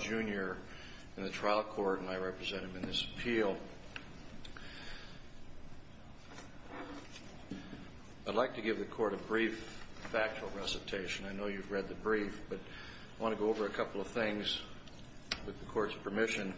Jr. in the trial court and I represent him in this appeal. I'd like to give the court a brief factual recitation. I know you've read the brief, but I want to go over a couple of things with the court's permission.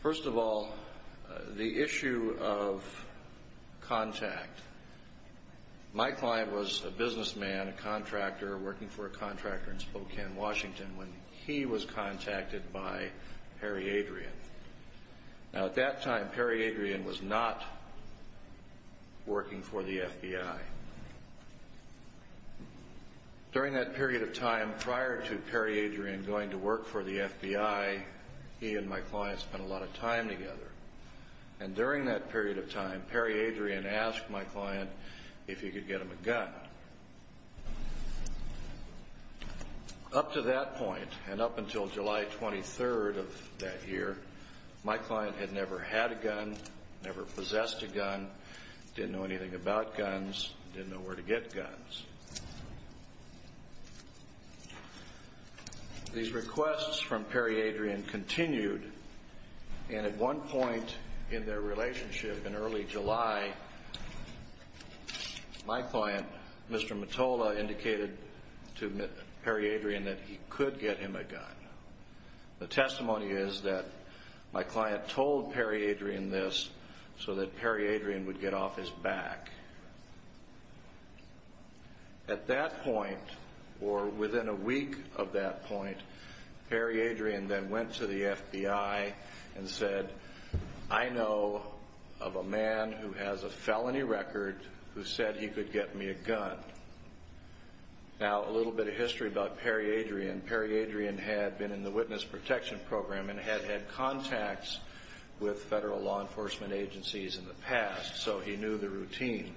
First of all, the issue of contact. My client was a businessman, a contractor, working for a contractor in Spokane, Washington, when he was contacted by Perry Adrian. At that time, Perry Adrian was not working for the FBI. During that period of time, prior to Perry Adrian going to work for the FBI, he and my client spent a lot of time together. During that period of time, Perry Adrian asked my client for a gun. Up to that point, and up until July 23rd of that year, my client had never had a gun, never possessed a gun, didn't know anything about guns, didn't know where to get guns. These requests from Perry Adrian continued, and at one point in their relationship in early July, my client, Mr. Mottola, indicated to Perry Adrian that he could get him a gun. The testimony is that my client told Perry Adrian this so that Perry Adrian would get off his back. At that point, or within a week of that point, Perry Adrian then went to the of a man who has a felony record who said he could get me a gun. Now, a little bit of history about Perry Adrian. Perry Adrian had been in the Witness Protection Program and had had contacts with federal law enforcement agencies in the past, so he knew the routine.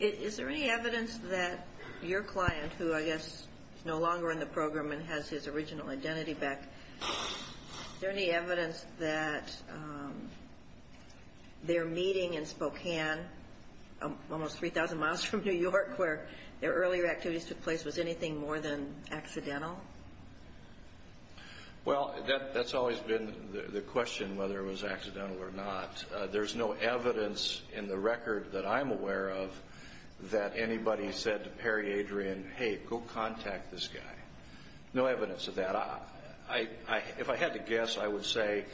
Is there any evidence that your client, who I guess is no longer in the program and has his original identity back, is there any evidence that their meeting in Spokane, almost 3,000 miles from New York, where their earlier activities took place, was anything more than accidental? Well, that's always been the question, whether it was accidental or not. There's no evidence in the record that I'm aware of that anybody said to Perry Adrian, hey, go contact this guy. No evidence of that. If I had to guess, I would say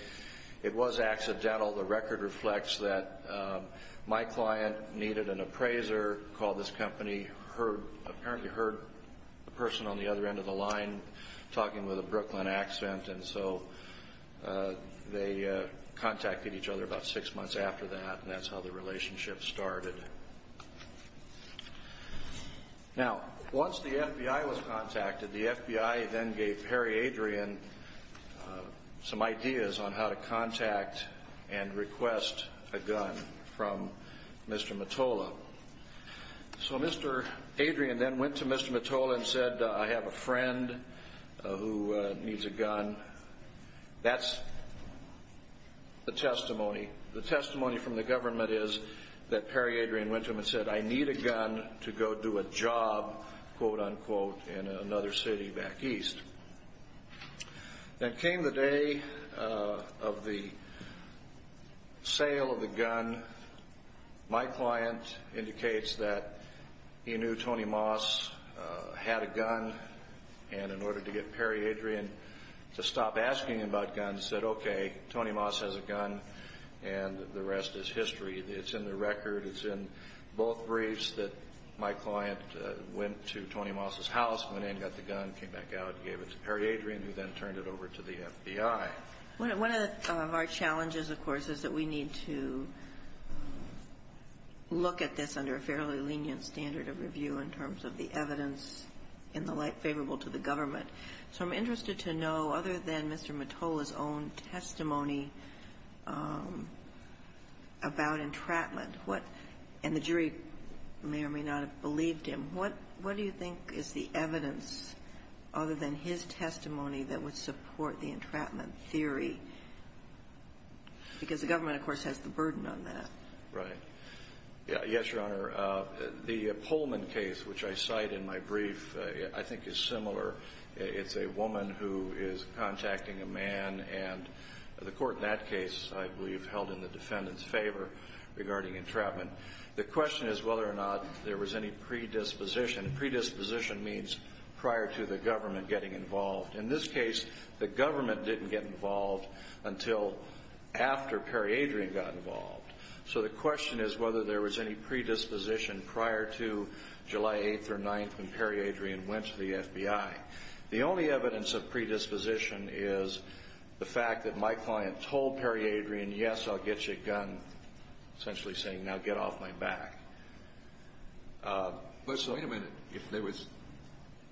it was accidental. The record reflects that my client needed an appraiser, called this company, apparently heard a person on the other end of the line talking with a Brooklyn accent, and so they contacted each other about six months after that, and that's how the relationship started. Now, once the FBI was contacted, the FBI then gave Perry Adrian some ideas on how to contact and request a gun from Mr. Mottola. So Mr. Adrian then went to Mr. Mottola and said, I have a friend who needs a gun. That's the testimony. The testimony from the government is that Perry Adrian went to him and said, I need a gun to go do a job, quote, unquote, in another city back east. Then came the day of the sale of the gun. My client indicates that he knew Tony Moss had a gun, and in order to get Perry Adrian to stop asking about guns, said, okay, Tony Moss has a gun, and the rest is history. It's in the record. It's in both briefs that my client went to Tony Moss' house, went in, got the gun, came back out, gave it to Perry Adrian, who then turned it over to the FBI. One of our challenges, of course, is that we need to look at this under a fairly lenient standard of review in terms of the evidence in the light favorable to the government. So I'm interested to know, other than Mr. Mottola's own testimony about entrapment, what – and the jury may or may not have believed him – what do you think is the evidence, other than his testimony, that would support the entrapment theory? Because the government, of course, has the burden on that. Right. Yes, Your Honor. The Pullman case, which I cite in my brief, I think is similar – it's a woman who is contacting a man, and the court in that case, I believe, held in the defendant's favor regarding entrapment. The question is whether or not there was any predisposition. Predisposition means prior to the government getting involved. In this case, the government didn't get involved until after Perry Adrian got involved. So the question is whether there was any predisposition prior to July 8th or 9th, when Perry Adrian went to the FBI. The only evidence of predisposition is the fact that my client told Perry Adrian, yes, I'll get you a gun, essentially saying, now get off my back. But wait a minute. If there was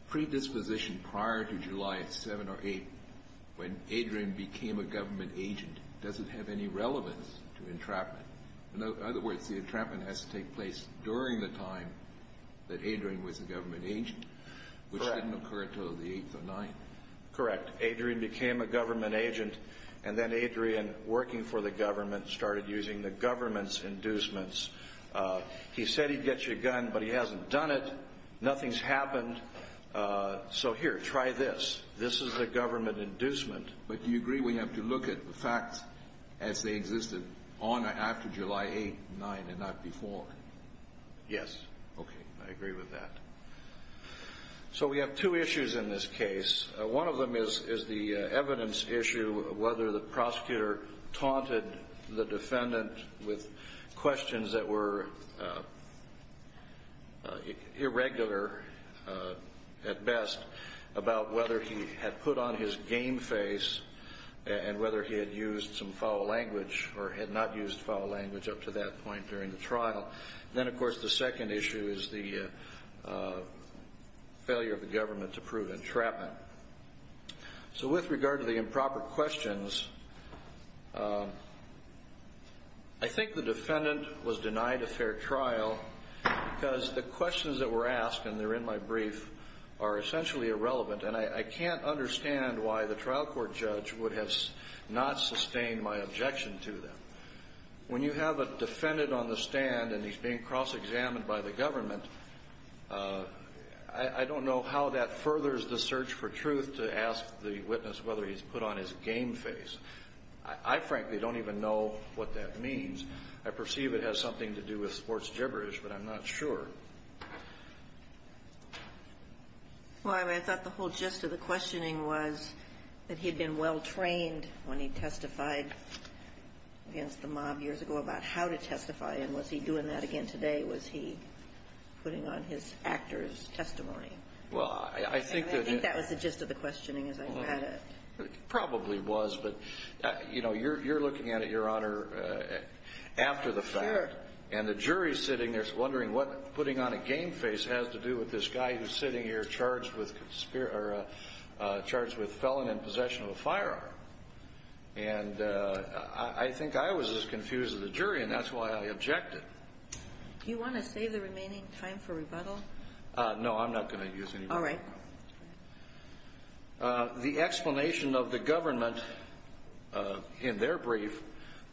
predisposition prior to July 7th or 8th, when Adrian became a government agent, does it have any relevance to entrapment? In other words, the entrapment has to take place during the time that Adrian was a government agent, which didn't occur until the 8th or 9th. Correct. Adrian became a government agent, and then Adrian, working for the government, started using the government's inducements. He said he'd get you a gun, but he hasn't done it. Nothing's happened. So here, try this. This is a government inducement. But do you agree we have to look at the facts as they existed on or after July 8th, 9th, and not before? Yes. Okay. I agree with that. So we have two issues in this case. One of them is the evidence issue of whether the prosecutor taunted the defendant with questions that were irregular, at best, about whether he had put on his game face and whether he had used some foul language or had not used foul language up to that point during the trial. Then, of course, the second issue is the failure of the government to prove entrapment. So with regard to the improper questions, I think the defendant was denied a fair trial because the questions that were asked, and they're in my brief, are essentially irrelevant. And I can't understand why the trial court judge would have not sustained my objection to them. When you have a defendant on the stand and he's being cross-examined by the government, I don't know how that furthers the search for truth to ask the witness whether he's put on his game face. I frankly don't even know what that means. I perceive it has something to do with sports gibberish, but I'm not sure. Well, I thought the whole gist of the questioning was that he had been well-trained when he testified against the mob years ago about how to testify. And was he doing that again today? Was he putting on his actor's testimony? Well, I think that... And I think that was the gist of the questioning as I read it. Probably was. But, you know, you're looking at it, Your Honor, after the fact. Fair. And the jury's sitting there wondering what putting on a game face has to do with this guy who's sitting here charged with felon in possession of a firearm. And I think I was as confused as the jury, and that's why I objected. Do you want to save the remaining time for rebuttal? No, I'm not going to use any more time. All right. The explanation of the government in their brief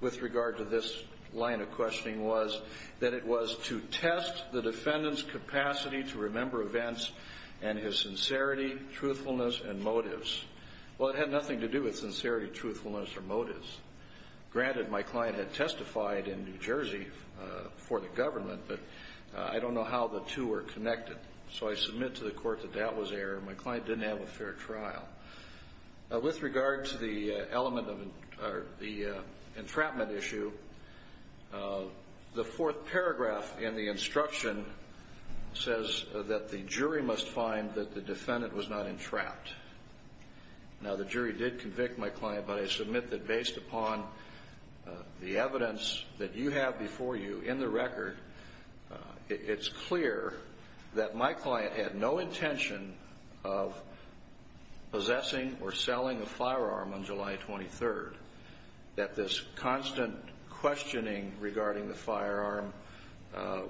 with regard to this line of questioning was that it was to test the defendant's capacity to remember events and his sincerity, truthfulness and motives. Well, it had nothing to do with sincerity, truthfulness or motives. Granted, my client had testified in New Jersey for the government, but I don't know how the two were connected. So I submit to the court that that was error. My client didn't have a fair trial. With regard to the element of the entrapment issue, the fourth paragraph in the instruction says that the jury must find that the defendant was not entrapped. Now, the jury did convict my client, but I submit that based upon the evidence that you have before you in the record, it's clear that my client had no intention of possessing or selling a firearm on July 23rd, that this constant questioning regarding the firearm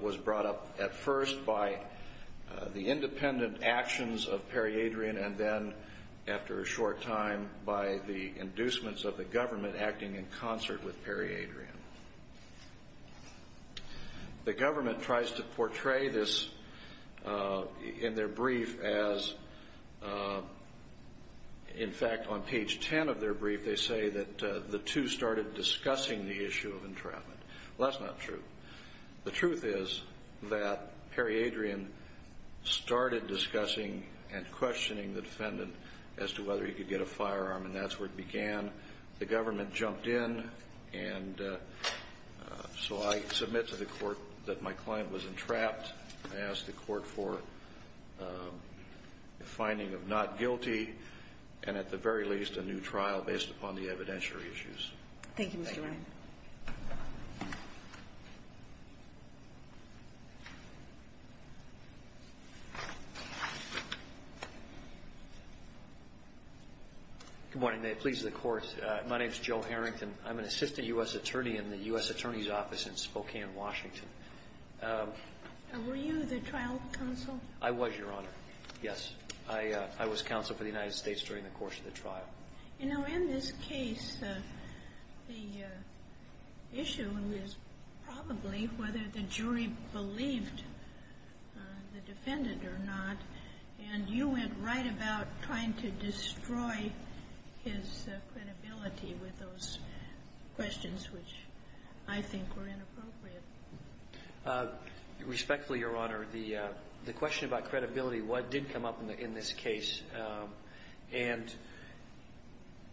was brought up at first by the independent actions of Perry Adrian and then, after a short time, by the inducements of the government acting in concert with Perry Adrian. The government tries to portray this in their brief as, in fact, on page 10 of their brief, they say that the two started discussing the issue of entrapment. Well, that's not true. The truth is that Perry Adrian started discussing and questioning the defendant as to whether he could get a firearm, and that's where it began. The government jumped in, and so I submit to the court that my client was entrapped. I ask the court for a finding of not guilty and, at the very least, a new trial based upon the evidentiary issues. Thank you, Mr. Ryan. Good morning. Please, the court. My name is Joe Harrington. I'm an assistant U.S. attorney in the U.S. Attorney's Office in Spokane, Washington. Were you the trial counsel? I was, Your Honor. Yes. I was counsel for the United States during the course of the trial. You know, in this case, the issue is probably whether the jury believed the defendant or not, and you went right about trying to destroy his credibility with those questions, which I think were inappropriate. Respectfully, Your Honor, the question about credibility did come up in this case, and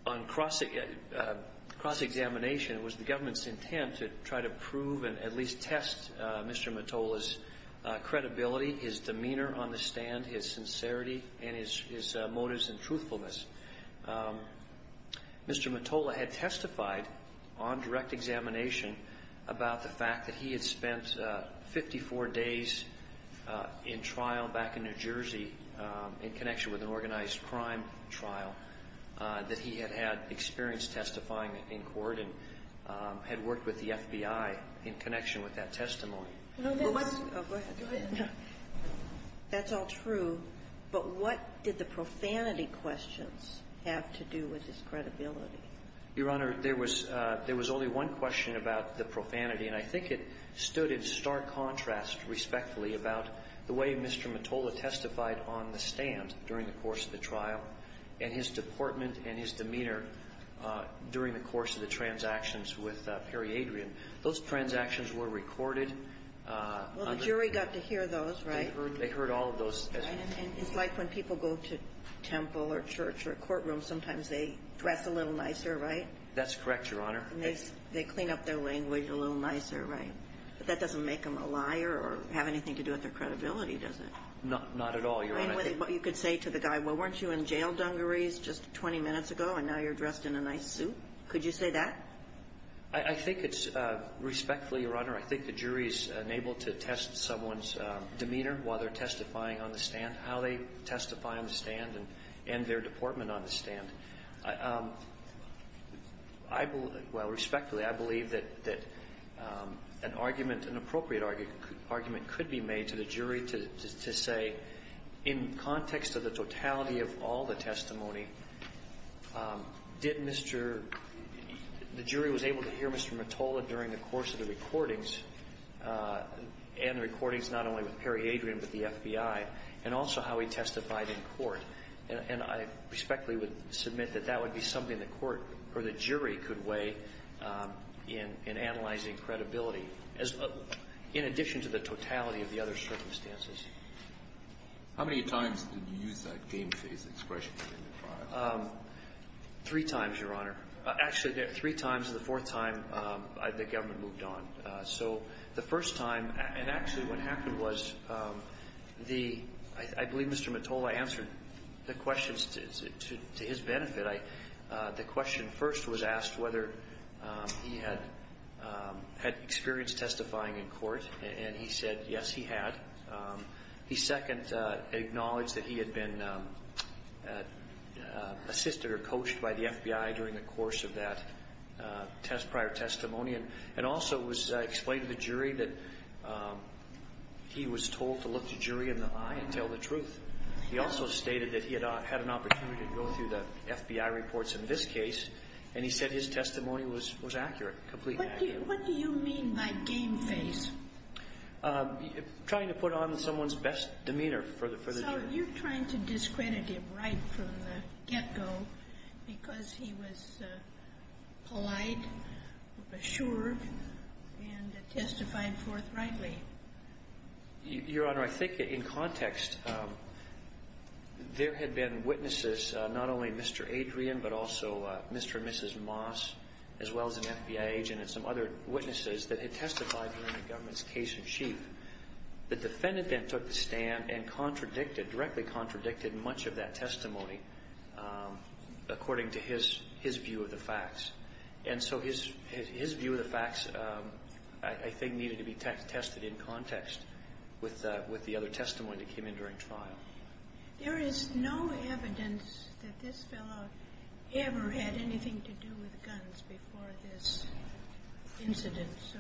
on cross-examination, it was the government's intent to try to prove and at least test Mr. Metolla's demeanor on the stand, his sincerity, and his motives and truthfulness. Mr. Metolla had testified on direct examination about the fact that he had spent 54 days in trial back in New Jersey in connection with an organized crime trial, that he had had experience testifying in court and had worked with the FBI in connection with that testimony. That's all true, but what did the profanity questions have to do with his credibility? Your Honor, there was only one question about the profanity, and I think it stood in stark contrast, respectfully, about the way Mr. Metolla testified on the stand during the course of the trial and his deportment and his demeanor during the course of the transactions with Perry Adrian. Those transactions were recorded. Well, the jury got to hear those, right? They heard all of those. And it's like when people go to temple or church or courtroom, sometimes they dress a little nicer, right? That's correct, Your Honor. And they clean up their language a little nicer, right? But that doesn't make them a liar or have anything to do with their credibility, does it? Not at all, Your Honor. I mean, you could say to the guy, well, weren't you in jail dungarees just 20 minutes ago, and now you're dressed in a nice suit? Could you say that? I think it's, respectfully, Your Honor, I think the jury's unable to test someone's demeanor while they're testifying on the stand, how they testify on the stand and their deportment on the stand. I believe, well, respectfully, I believe that an argument, an appropriate argument, could be made to the jury to say, in context of the totality of all the testimony, did Mr. — the jury was able to hear Mr. Mottola during the course of the recordings, and the recordings not only with Perry Adrian but the FBI, and also how he testified in court. And I respectfully would submit that that would be something the court or the jury could weigh in analyzing credibility as — in addition to the totality of the other circumstances. How many times did you use that game-phase expression in the trial? Three times, Your Honor. Actually, three times. The fourth time, the government moved on. So the first time — and actually, what happened was the — I believe Mr. Mottola answered the questions to his benefit. The question first was asked whether he had experienced testifying in court. And he said, yes, he had. He second acknowledged that he had been assisted or coached by the FBI during the course of that prior testimony. And also it was explained to the jury that he was told to look the jury in the eye and tell the truth. He also stated that he had had an opportunity to go through the FBI reports in this case, and he said his testimony was accurate, completely accurate. What do you mean by game-phase? Trying to put on someone's best demeanor for the jury. So you're trying to discredit him right from the get-go because he was polite, assured, and testified forthrightly. Your Honor, I think in context, there had been witnesses, not only Mr. Adrian, but also Mr. and Mrs. Moss, as well as an FBI agent and some other witnesses, that had testified during the government's case in chief. The defendant then took the stand and contradicted, directly contradicted, much of that testimony according to his view of the facts. And so his view of the facts, I think, needed to be tested in context with the other testimony that came in during trial. There is no evidence that this fellow ever had anything to do with guns before this incident, so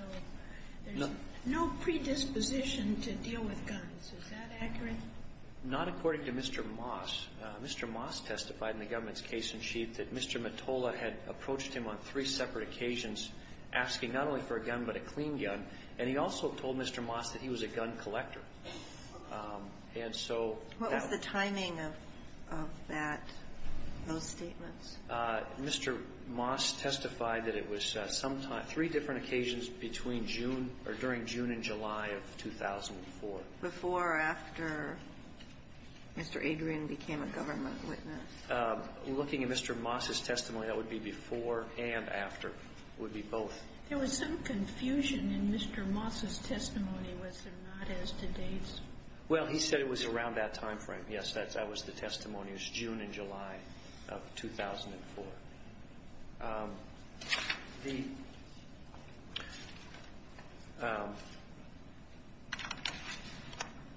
there's no predisposition to deal with guns. Is that accurate? Not according to Mr. Moss. Mr. Moss testified in the government's case in chief that Mr. Mottola had approached him on three separate occasions asking not only for a gun, but a clean gun. And he also told Mr. Moss that he was a gun collector. And so that was the timing of that, those statements. Mr. Moss testified that it was sometime, three different occasions between June or during June and July of 2004. Before or after Mr. Adrian became a government witness? Looking at Mr. Moss's testimony, that would be before and after. It would be both. There was some confusion in Mr. Moss's testimony. Was there not as to dates? Well, he said it was around that time frame. Yes, that was the testimony. It was June and July of 2004.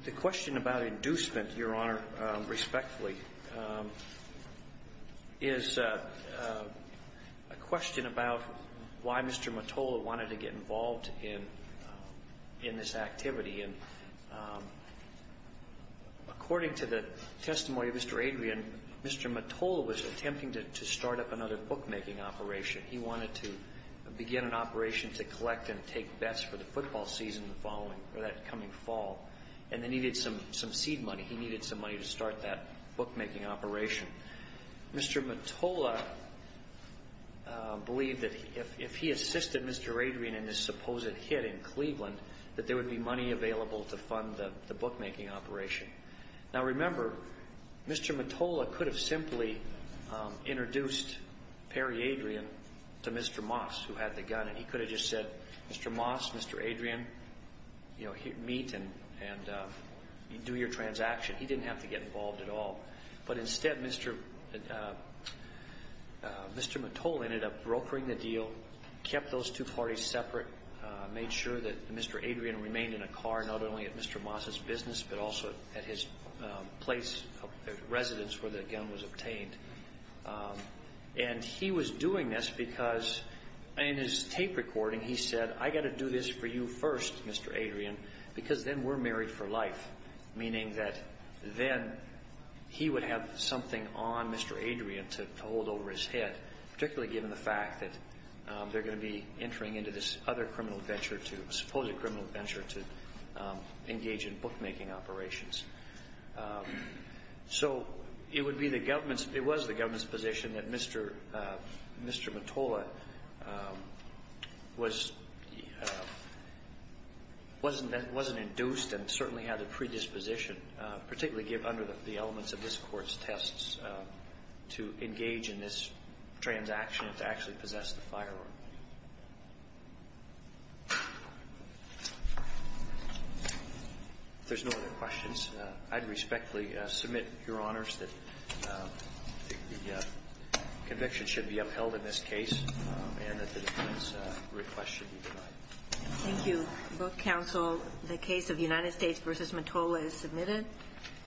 The question about inducement, Your Honor, respectfully, is a question about why Mr. Mottola wanted to get involved in this activity. And according to the testimony of Mr. Adrian, Mr. Mottola was attempting to start up another bookmaking operation. He wanted to begin an operation to collect and take bets for the football season the following or that coming fall. And they needed some seed money. He needed some money to start that bookmaking operation. Mr. Mottola believed that if he assisted Mr. Adrian in this supposed hit in Cleveland, that there would be money available to fund the bookmaking operation. Now, remember, Mr. Mottola could have simply introduced Perry Adrian to Mr. Moss, who had the gun, and he could have just said, Mr. Moss, Mr. Adrian, meet and do your transaction. He didn't have to get involved at all. But instead, Mr. Mottola ended up brokering the deal, kept those two parties separate, made sure that Mr. Adrian remained in a car not only at Mr. Moss' business, but also at his place of residence where the gun was obtained. And he was doing this because in his tape recording he said, I've got to do this for you first, Mr. Adrian, because then we're married for life, meaning that then he would have something on Mr. Adrian to hold over his head, particularly given the fact that they're going to be entering into this other criminal adventure, a supposed criminal adventure, to engage in bookmaking operations. So it would be the government's – it was the government's position that Mr. Mottola was – wasn't induced and certainly had a predisposition, particularly given under the elements of this Court's tests, to engage in this transaction and to actually possess the firearm. If there's no other questions, I'd respectfully submit, Your Honors, that the conviction should be upheld in this case and that the defense request should be denied. Thank you. Book counsel, the case of United States v. Mottola is submitted.